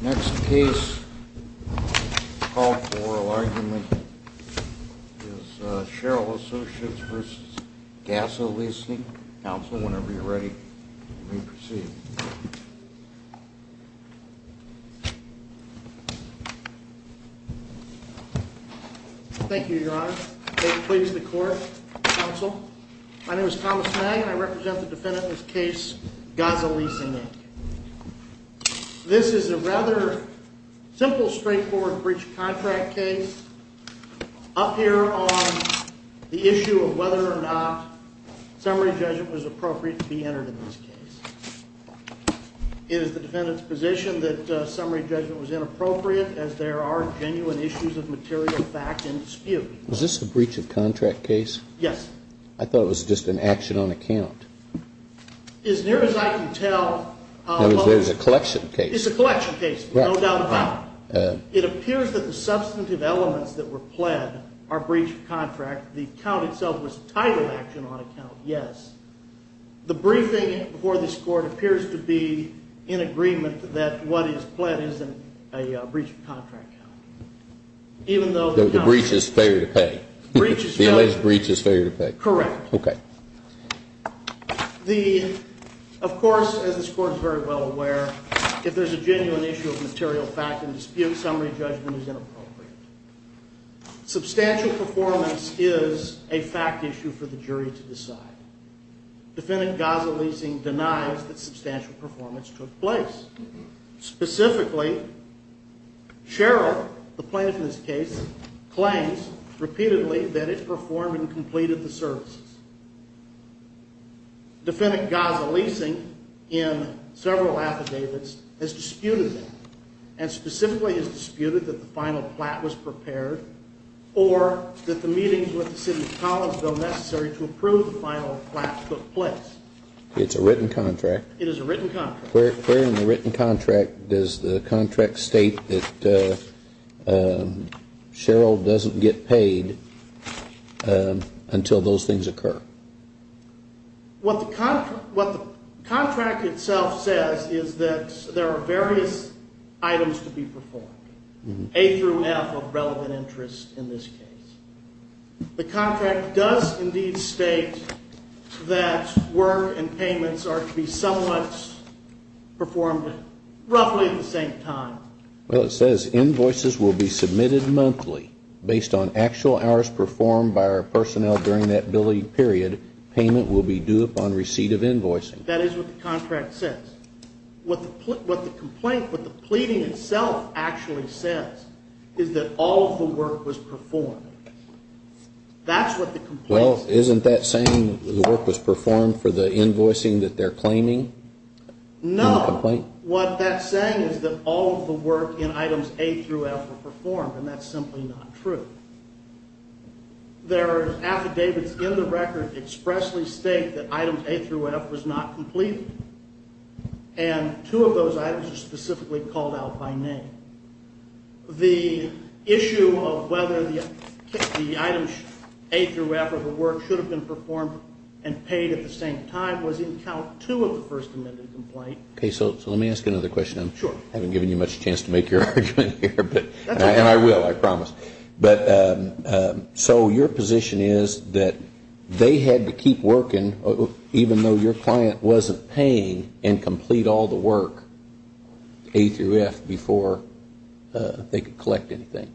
Next case called for oral argument is Sherrill Associates v. GASA Leasing, Inc. Counsel, whenever you're ready, you may proceed. Thank you, Your Honor. May it please the Court, Counsel. My name is Thomas Magg and I represent the defendant in this case, GASA Leasing, Inc. This is a rather simple, straightforward breach of contract case up here on the issue of whether or not summary judgment was appropriate to be entered in this case. It is the defendant's position that summary judgment was inappropriate as there are genuine issues of material fact in dispute. Is this a breach of contract case? Yes. I thought it was just an action on account. As near as I can tell, it's a collection case, no doubt about it. It appears that the substantive elements that were pled are breach of contract. The count itself was a title action on account, yes. The briefing before this Court appears to be in agreement that what is pled isn't a breach of contract. The breach is failure to pay. The alleged breach is failure to pay. Correct. Okay. Of course, as this Court is very well aware, if there's a genuine issue of material fact in dispute, summary judgment is inappropriate. Substantial performance is a fact issue for the jury to decide. Defendant GASA Leasing denies that substantial performance took place. Specifically, Cheryl, the plaintiff in this case, claims repeatedly that it performed and completed the services. Defendant GASA Leasing, in several affidavits, has disputed that and specifically has disputed that the final plat was prepared or that the meetings with the City of Collinsville necessary to approve the final plat took place. It's a written contract. It is a written contract. Where in the written contract does the contract state that Cheryl doesn't get paid until those things occur? What the contract itself says is that there are various items to be performed, A through F of relevant interest in this case. The contract does indeed state that work and payments are to be somewhat performed roughly at the same time. Well, it says invoices will be submitted monthly. Based on actual hours performed by our personnel during that billing period, payment will be due upon receipt of invoicing. That is what the contract says. What the complaint, what the pleading itself actually says is that all of the work was performed. That's what the complaint says. Well, isn't that saying the work was performed for the invoicing that they're claiming in the complaint? No. What that's saying is that all of the work in items A through F were performed, and that's simply not true. There are affidavits in the record expressly state that items A through F was not completed. And two of those items are specifically called out by name. The issue of whether the items A through F of the work should have been performed and paid at the same time was in count two of the first amended complaint. Okay. So let me ask you another question. Sure. I haven't given you much chance to make your argument here, and I will, I promise. But so your position is that they had to keep working, even though your client wasn't paying, and complete all the work, A through F, before they could collect anything?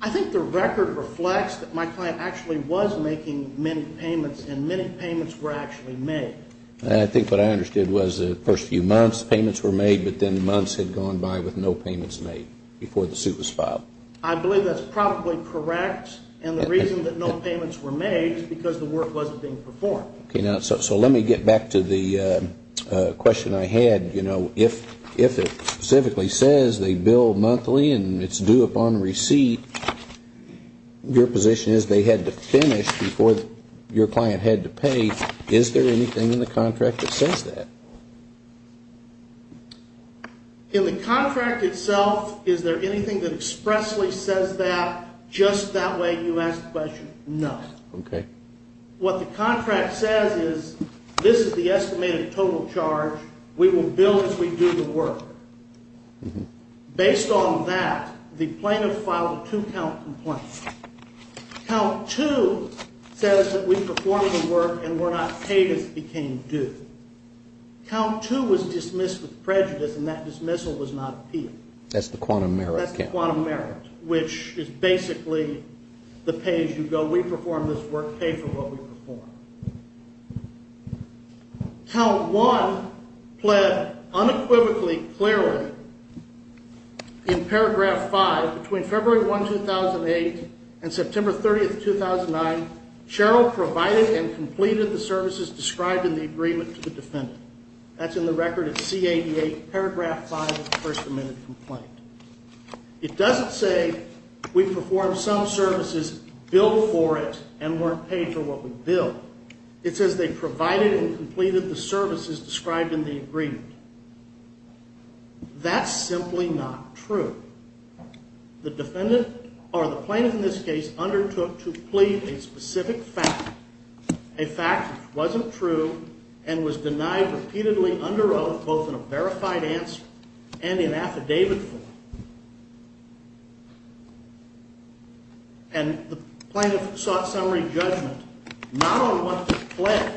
I think the record reflects that my client actually was making many payments, and many payments were actually made. I think what I understood was the first few months payments were made, but then months had gone by with no payments made before the suit was filed. I believe that's probably correct, and the reason that no payments were made is because the work wasn't being performed. Okay. So let me get back to the question I had. You know, if it specifically says they bill monthly and it's due upon receipt, your position is they had to finish before your client had to pay. Is there anything in the contract that says that? In the contract itself, is there anything that expressly says that, just that way you ask the question? No. Okay. What the contract says is this is the estimated total charge. We will bill as we do the work. Based on that, the plaintiff filed a two-count complaint. Count two says that we performed the work and were not paid as it became due. Count two was dismissed with prejudice, and that dismissal was not appealed. That's the quantum merit count. That's the quantum merit, which is basically the pay as you go. We performed this work. Pay for what we performed. Count one pled unequivocally, clearly in paragraph five. Between February 1, 2008, and September 30, 2009, Cheryl provided and completed the services described in the agreement to the defendant. That's in the record at C-88, paragraph five of the first amendment complaint. It doesn't say we performed some services, billed for it, and weren't paid for what we billed. It says they provided and completed the services described in the agreement. That's simply not true. The defendant, or the plaintiff in this case, undertook to plead a specific fact, a fact which wasn't true and was denied repeatedly under oath, both in a verified answer and in affidavit form. And the plaintiff sought summary judgment, not on what to plead,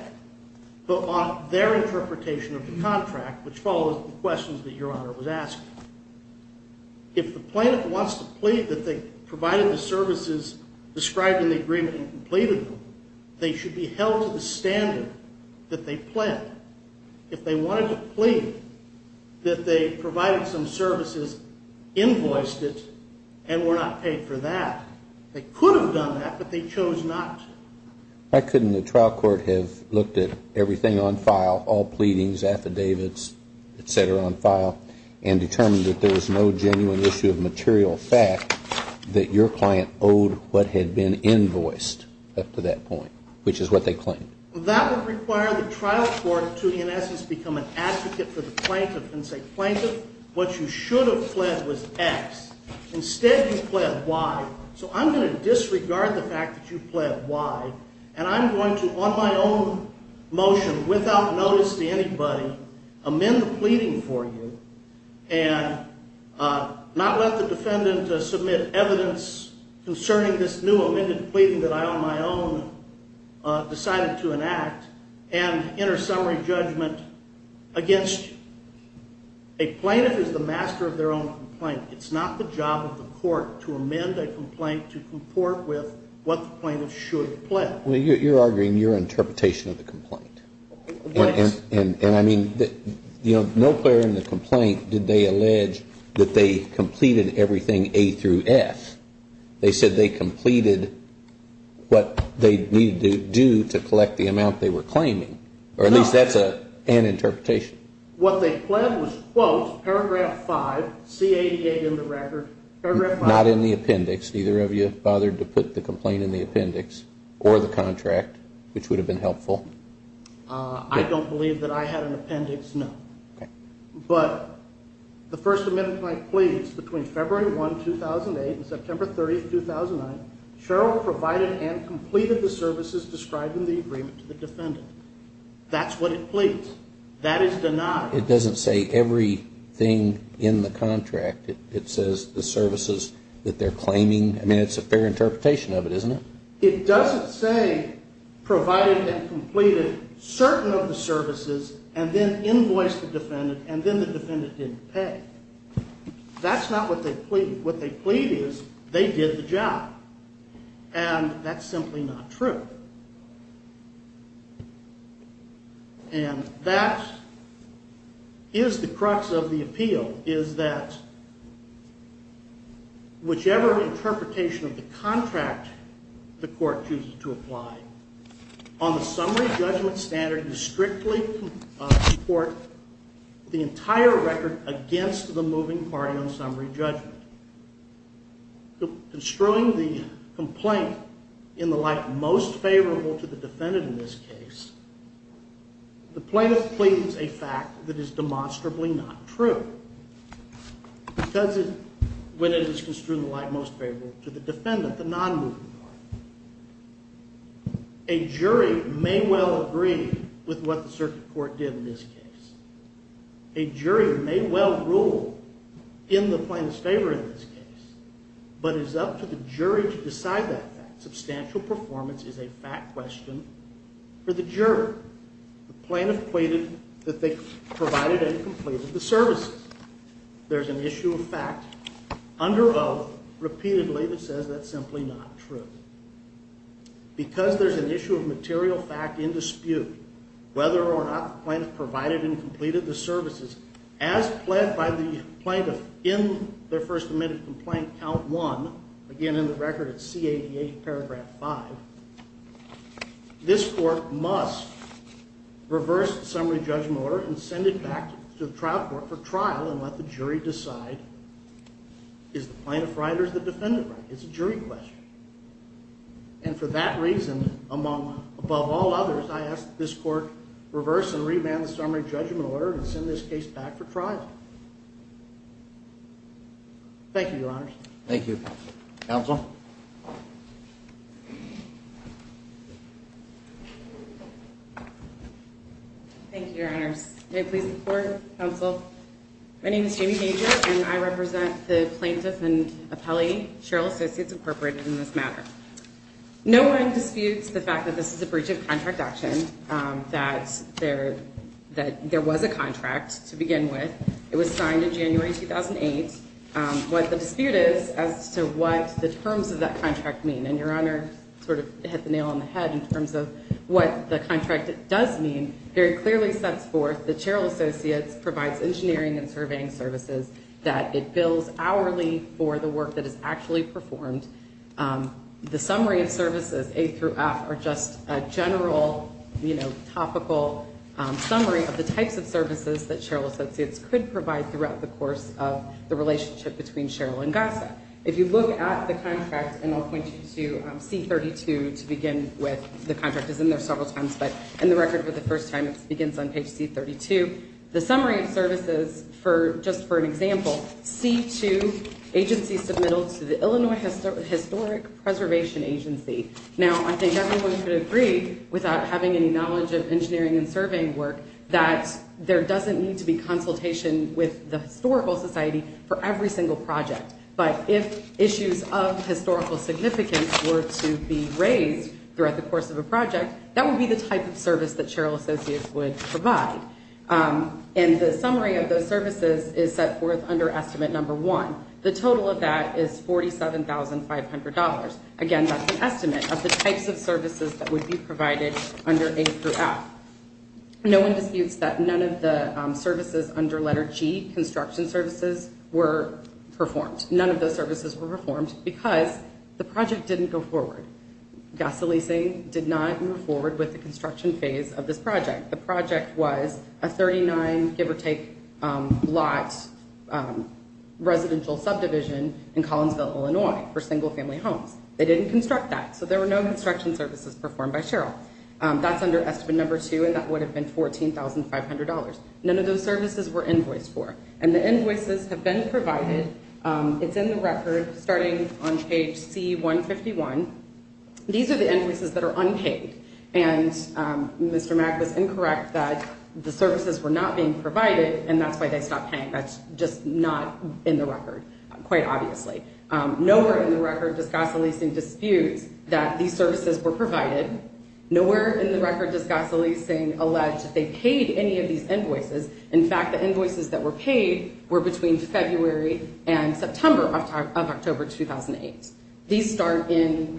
but on their interpretation of the contract, which follows the questions that Your Honor was asking. If the plaintiff wants to plead that they provided the services described in the agreement and completed them, they should be held to the standard that they pled. If they wanted to plead that they provided some services, invoiced it, and were not paid for that, they could have done that, but they chose not. Why couldn't the trial court have looked at everything on file, all pleadings, affidavits, et cetera, on file, and determined that there was no genuine issue of material fact that your client owed what had been invoiced up to that point, which is what they claimed? That would require the trial court to, in essence, become an advocate for the plaintiff and say, And I'm going to, on my own motion, without notice to anybody, amend the pleading for you and not let the defendant submit evidence concerning this new amended pleading that I on my own decided to enact and enter summary judgment against you. A plaintiff is the master of their own complaint. It's not the job of the court to amend a complaint to comport with what the plaintiff should have pled. Well, you're arguing your interpretation of the complaint. And I mean, you know, no player in the complaint did they allege that they completed everything A through F. They said they completed what they needed to do to collect the amount they were claiming, or at least that's an interpretation. What they pled was, quote, paragraph 5, C-88 in the record, paragraph 5. Not in the appendix. Either of you bothered to put the complaint in the appendix or the contract, which would have been helpful? I don't believe that I had an appendix, no. Okay. But the First Amendment might plead between February 1, 2008 and September 30, 2009, Cheryl provided and completed the services described in the agreement to the defendant. That's what it pleads. That is denied. It doesn't say everything in the contract. It says the services that they're claiming. I mean, it's a fair interpretation of it, isn't it? It doesn't say provided they completed certain of the services and then invoiced the defendant and then the defendant didn't pay. That's not what they plead. What they plead is they did the job. And that's simply not true. And that is the crux of the appeal, is that whichever interpretation of the contract the court chooses to apply, on the summary judgment standard you strictly support the entire record against the moving party on summary judgment. Construing the complaint in the light most favorable to the defendant in this case, the plaintiff pleads a fact that is demonstrably not true. Because when it is construed in the light most favorable to the defendant, the non-moving party, a jury may well agree with what the circuit court did in this case. A jury may well rule in the plaintiff's favor in this case, but it's up to the jury to decide that fact. Substantial performance is a fact question for the jury. The plaintiff pleaded that they provided and completed the services. There's an issue of fact under oath repeatedly that says that's simply not true. Because there's an issue of material fact in dispute, whether or not the plaintiff provided and completed the services, as pled by the plaintiff in their first admitted complaint, Count 1, again in the record it's C88 paragraph 5, this court must reverse the summary judgment order and send it back to the trial court for trial and let the jury decide is the plaintiff right or is the defendant right. It's a jury question. And for that reason, above all others, I ask that this court reverse and revamp the summary judgment order and send this case back for trial. Thank you, Your Honors. Thank you. Counsel? Thank you, Your Honors. May I please report, counsel? My name is Jamie Major, and I represent the plaintiff and appellee, Sherrill Associates Incorporated, in this matter. No one disputes the fact that this is a breach of contract action, that there was a contract to begin with. It was signed in January 2008. What the dispute is as to what the terms of that contract mean, and Your Honor sort of hit the nail on the head in terms of what the contract does mean, very clearly sets forth that Sherrill Associates provides engineering and surveying services, that it bills hourly for the work that is actually performed. The summary of services, A through F, are just a general, you know, topical summary of the types of services that Sherrill Associates could provide throughout the course of the relationship between Sherrill and GASA. If you look at the contract, and I'll point you to C-32 to begin with, the contract is in there several times, but in the record for the first time, it begins on page C-32. The summary of services, just for an example, C-2, agency submittal to the Illinois Historic Preservation Agency. Now, I think everyone could agree, without having any knowledge of engineering and surveying work, that there doesn't need to be consultation with the historical society for every single project. But if issues of historical significance were to be raised throughout the course of a project, that would be the type of service that Sherrill Associates would provide. And the summary of those services is set forth under estimate number one. The total of that is $47,500. Again, that's an estimate of the types of services that would be provided under A through F. No one disputes that none of the services under letter G, construction services, were performed. None of those services were performed because the project didn't go forward. GASA leasing did not move forward with the construction phase of this project. The project was a 39, give or take, lot residential subdivision in Collinsville, Illinois, for single family homes. They didn't construct that, so there were no construction services performed by Sherrill. That's under estimate number two, and that would have been $14,500. None of those services were invoiced for. And the invoices have been provided. It's in the record, starting on page C-151. These are the invoices that are unpaid. And Mr. Mack was incorrect that the services were not being provided, and that's why they stopped paying. That's just not in the record, quite obviously. Nowhere in the record does GASA leasing dispute that these services were provided. Nowhere in the record does GASA leasing allege that they paid any of these invoices. In fact, the invoices that were paid were between February and September of October 2008. These start in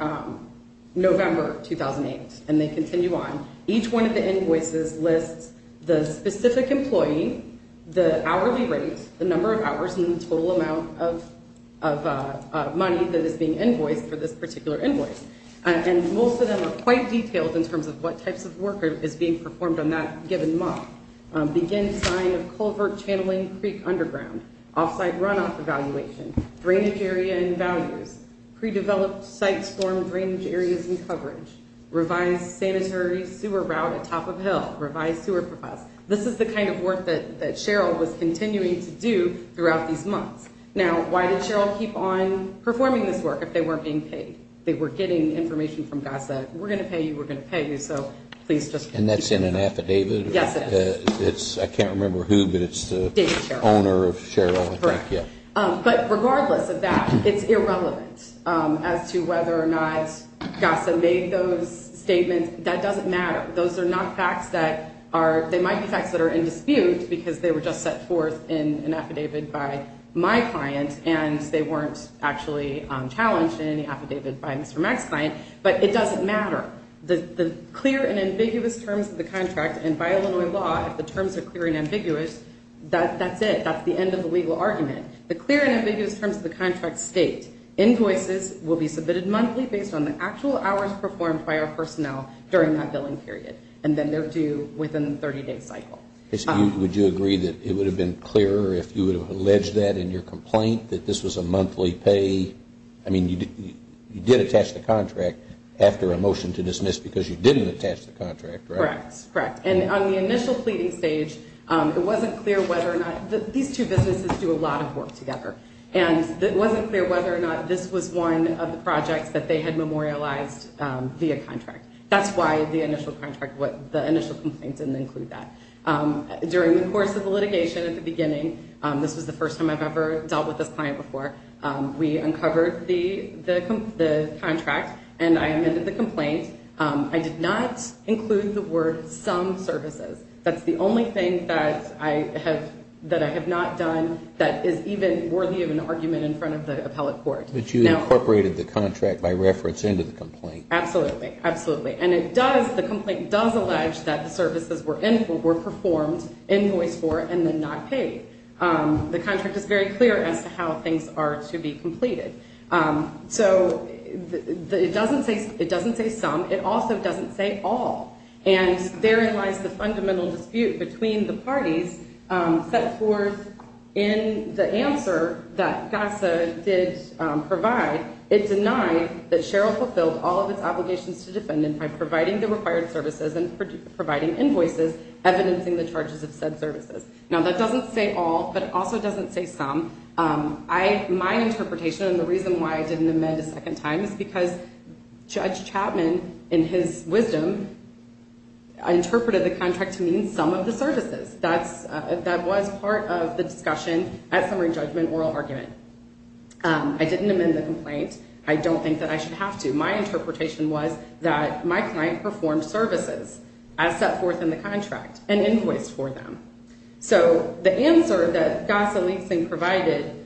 November 2008, and they continue on. Each one of the invoices lists the specific employee, the hourly rate, the number of hours, and the total amount of money that is being invoiced for this particular invoice. And most of them are quite detailed in terms of what types of work is being performed on that given month. Begin sign of culvert channeling creek underground. Offsite runoff evaluation. Drainage area and boundaries. Pre-developed site storm drainage areas and coverage. Revised sanitary sewer route atop of hill. Revised sewer process. This is the kind of work that Cheryl was continuing to do throughout these months. Now, why did Cheryl keep on performing this work if they weren't being paid? They were getting information from GASA. We're going to pay you. We're going to pay you. And that's in an affidavit? Yes, it is. I can't remember who, but it's the owner of Cheryl. Correct. But regardless of that, it's irrelevant as to whether or not GASA made those statements. That doesn't matter. Those are not facts that are, they might be facts that are in dispute because they were just set forth in an affidavit by my client and they weren't actually challenged in any affidavit by Mr. Mack's client. But it doesn't matter. The clear and ambiguous terms of the contract, and by Illinois law, if the terms are clear and ambiguous, that's it. That's the end of the legal argument. The clear and ambiguous terms of the contract state, will be submitted monthly based on the actual hours performed by our personnel during that billing period, and then they're due within the 30-day cycle. Would you agree that it would have been clearer if you would have alleged that in your complaint, that this was a monthly pay? I mean, you did attach the contract after a motion to dismiss because you didn't attach the contract, right? Correct, correct. And on the initial pleading stage, it wasn't clear whether or not, these two businesses do a lot of work together, and it wasn't clear whether or not this was one of the projects that they had memorialized via contract. That's why the initial complaint didn't include that. During the course of the litigation at the beginning, this was the first time I've ever dealt with this client before, we uncovered the contract and I amended the complaint. I did not include the word, some services. That's the only thing that I have not done that is even worthy of an argument in front of the appellate court. But you incorporated the contract by reference into the complaint. Absolutely, absolutely. And it does, the complaint does allege that the services were performed in voice for and then not paid. The contract is very clear as to how things are to be completed. So, it doesn't say some, it also doesn't say all. And therein lies the fundamental dispute between the parties set forth in the answer that CASA did provide. It denied that Sherrill fulfilled all of its obligations to defendants by providing the required services and providing invoices evidencing the charges of said services. Now, that doesn't say all, but it also doesn't say some. My interpretation and the reason why I didn't amend a second time is because Judge Chapman, in his wisdom, interpreted the contract to mean some of the services. That was part of the discussion at summary judgment oral argument. I didn't amend the complaint. I don't think that I should have to. My interpretation was that my client performed services as set forth in the contract and invoice for them. So, the answer that CASA leasing provided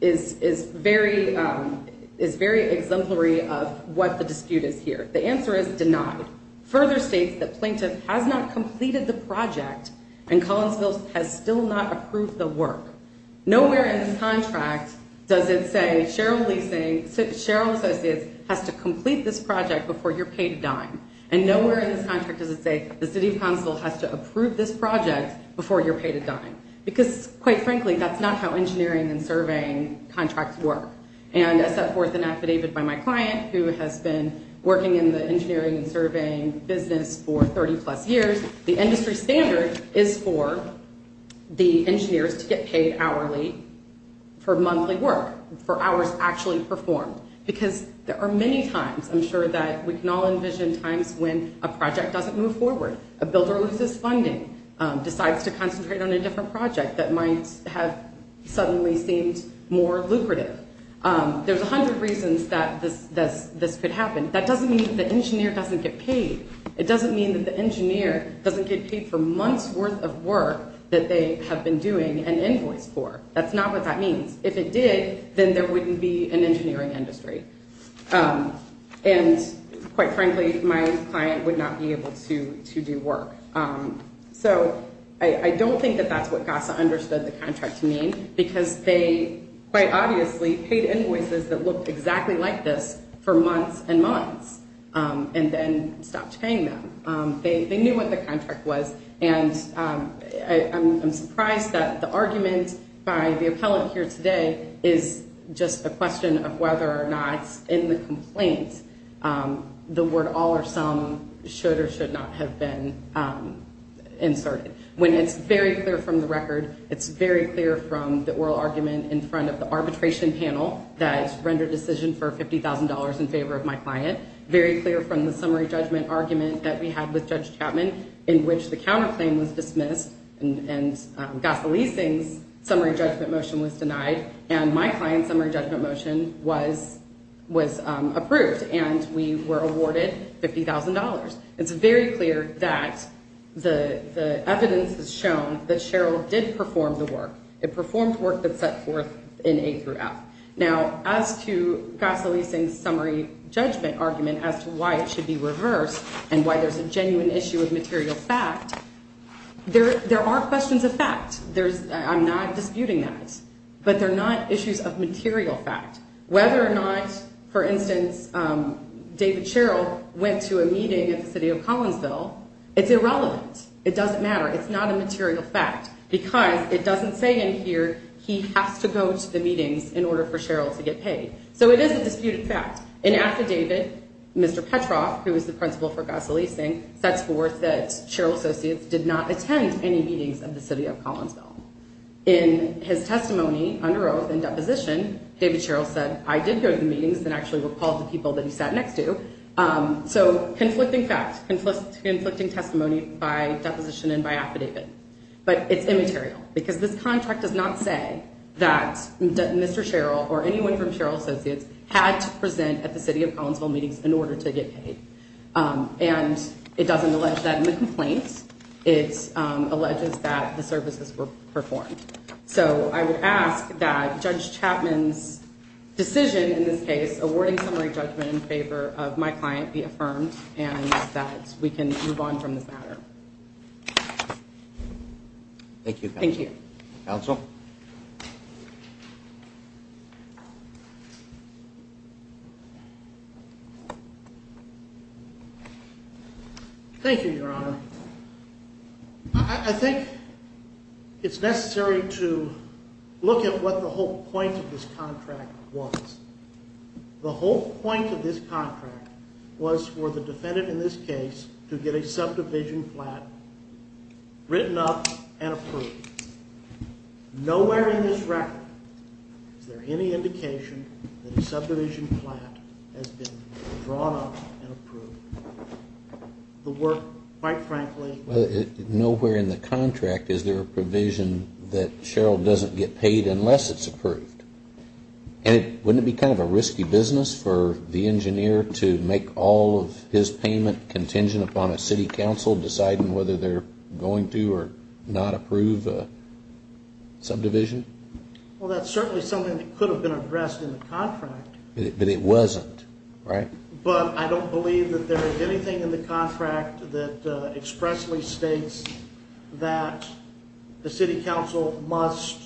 is very exemplary of what the dispute is here. The answer is denied. Further states that plaintiff has not completed the project and Collinsville has still not approved the work. Nowhere in the contract does it say Sherrill Associates has to complete this project before you're paid a dime. And nowhere in this contract does it say the city of Collinsville has to approve this project before you're paid a dime. Because, quite frankly, that's not how engineering and surveying contracts work. And as set forth in affidavit by my client who has been working in the engineering and surveying business for 30 plus years, the industry standard is for the engineers to get paid hourly for monthly work, for hours actually performed. Because there are many times, I'm sure, that we can all envision times when a project doesn't move forward, a builder loses funding, decides to concentrate on a different project that might have suddenly seemed more lucrative. There's a hundred reasons that this could happen. That doesn't mean that the engineer doesn't get paid. It doesn't mean that the engineer doesn't get paid for months' worth of work that they have been doing an invoice for. That's not what that means. If it did, then there wouldn't be an engineering industry. And, quite frankly, my client would not be able to do work. So I don't think that that's what GASA understood the contract to mean because they, quite obviously, paid invoices that looked exactly like this for months and months and then stopped paying them. They knew what the contract was. And I'm surprised that the argument by the appellate here today is just a question of whether or not in the complaint the word all or some should or should not have been inserted. When it's very clear from the record, it's very clear from the oral argument in front of the arbitration panel that rendered decision for $50,000 in favor of my client, very clear from the summary judgment argument that we had with Judge Chapman in which the counterclaim was dismissed and GASA leasing's summary judgment motion was denied and my client's summary judgment motion was approved and we were awarded $50,000. It's very clear that the evidence has shown that Sherrill did perform the work. It performed work that's set forth in A through F. Now, as to GASA leasing's summary judgment argument as to why it should be reversed and why there's a genuine issue of material fact, there are questions of fact. I'm not disputing that. But they're not issues of material fact. Whether or not, for instance, David Sherrill went to a meeting at the city of Collinsville, it's irrelevant. It doesn't matter. It's not a material fact because it doesn't say in here he has to go to the meetings in order for Sherrill to get paid. So it is a disputed fact. An affidavit, Mr. Petroff, who was the principal for GASA leasing, sets forth that Sherrill Associates did not attend any meetings at the city of Collinsville. In his testimony under oath and deposition, David Sherrill said, I did go to the meetings and actually recalled the people that he sat next to. So conflicting facts, conflicting testimony by deposition and by affidavit. But it's immaterial because this contract does not say that Mr. Sherrill or anyone from Sherrill Associates had to present at the city of Collinsville meetings in order to get paid. And it doesn't allege that in the complaints. It alleges that the services were performed. So I would ask that Judge Chapman's decision in this case, awarding summary judgment in favor of my client be affirmed and that we can move on from this matter. Thank you. Thank you. Counsel. Thank you, Your Honor. I think it's necessary to look at what the whole point of this contract was. The whole point of this contract was for the defendant in this case to get a subdivision flat written up and approved. Nowhere in this record is there any indication that a subdivision flat has been drawn up and approved. The work, quite frankly. Nowhere in the contract is there a provision that Sherrill doesn't get paid unless it's approved. And wouldn't it be kind of a risky business for the engineer to make all of his payment contingent upon a city council deciding whether they're going to or not approve a subdivision? Well, that's certainly something that could have been addressed in the contract. But it wasn't, right? But I don't believe that there is anything in the contract that expressly states that the city council must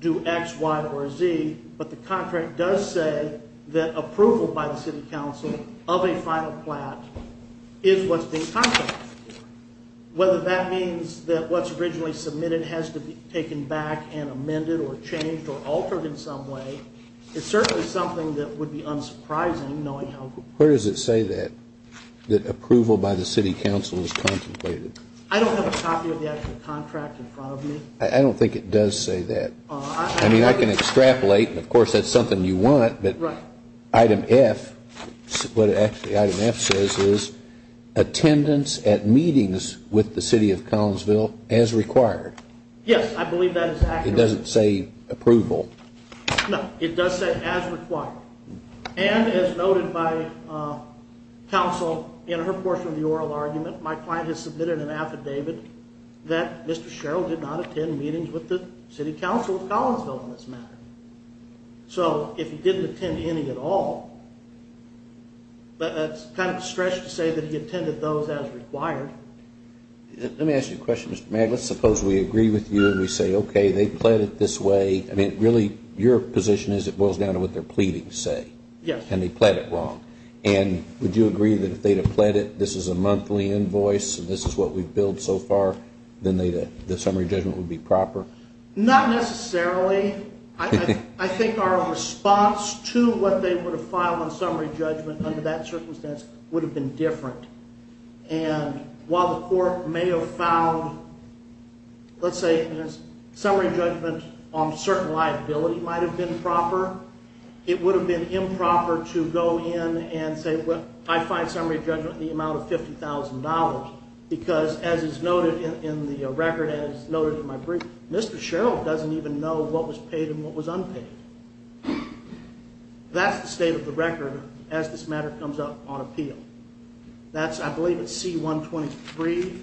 do X, Y, or Z. But the contract does say that approval by the city council of a final flat is what's being contracted for. Whether that means that what's originally submitted has to be taken back and amended or changed or altered in some way, it's certainly something that would be unsurprising knowing how... Where does it say that, that approval by the city council is contemplated? I don't have a copy of the actual contract in front of me. I don't think it does say that. I mean, I can extrapolate. Of course, that's something you want. Right. But item F, what item F says is attendance at meetings with the city of Collinsville as required. Yes, I believe that is accurate. It doesn't say approval. No, it does say as required. And as noted by counsel in her portion of the oral argument, my client has submitted an affidavit that Mr. Sherrill did not attend meetings with the city council of Collinsville in this matter. So if he didn't attend any at all, that's kind of a stretch to say that he attended those as required. Let me ask you a question, Mr. Magg. Let's suppose we agree with you and we say, okay, they pled it this way. I mean, really your position is it boils down to what they're pleading to say. Yes. And they pled it wrong. And would you agree that if they had pled it, this is a monthly invoice, this is what we've billed so far, then the summary judgment would be proper? Not necessarily. I think our response to what they would have filed on summary judgment under that circumstance would have been different. And while the court may have filed, let's say, a summary judgment on certain liability might have been proper, it would have been improper to go in and say, well, I find summary judgment in the amount of $50,000 because, as is noted in the record, as noted in my brief, Mr. Sherrill doesn't even know what was paid and what was unpaid. That's the state of the record as this matter comes up on appeal. That's, I believe, at C-123.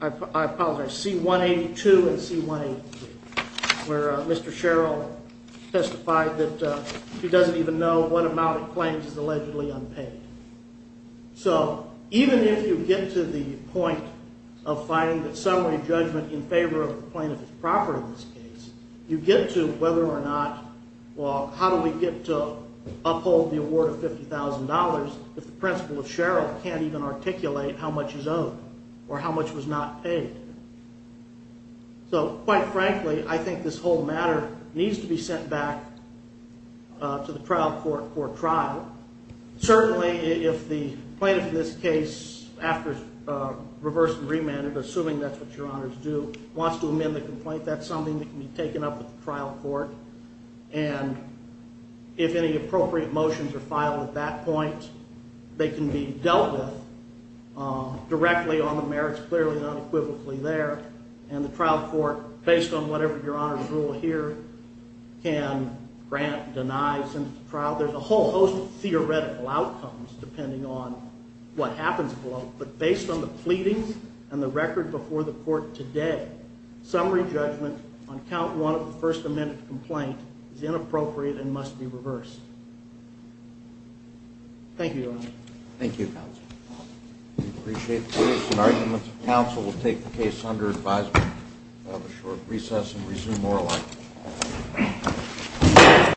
I apologize, C-182 and C-183, where Mr. Sherrill testified that he doesn't even know what amount he claims is allegedly unpaid. So even if you get to the point of finding that summary judgment in favor of the plaintiff is proper in this case, you get to whether or not, well, how do we get to uphold the award of $50,000 if the principal of Sherrill can't even articulate how much is owed or how much was not paid? So, quite frankly, I think this whole matter needs to be sent back to the trial court for a trial. Certainly, if the plaintiff in this case, after reverse and remand, assuming that's what your honors do, wants to amend the complaint, that's something that can be taken up with the trial court. And if any appropriate motions are filed at that point, they can be dealt with directly on the merits clearly unequivocally there. And the trial court, based on whatever your honors rule here, can grant, deny, send it to trial. Now, there's a whole host of theoretical outcomes depending on what happens below, but based on the pleadings and the record before the court today, summary judgment on count one of the first amended complaint is inappropriate and must be reversed. Thank you, Your Honor. Thank you, Counsel. We appreciate the witness and arguments. Counsel will take the case under advisement. We'll have a short recess and resume oral argument.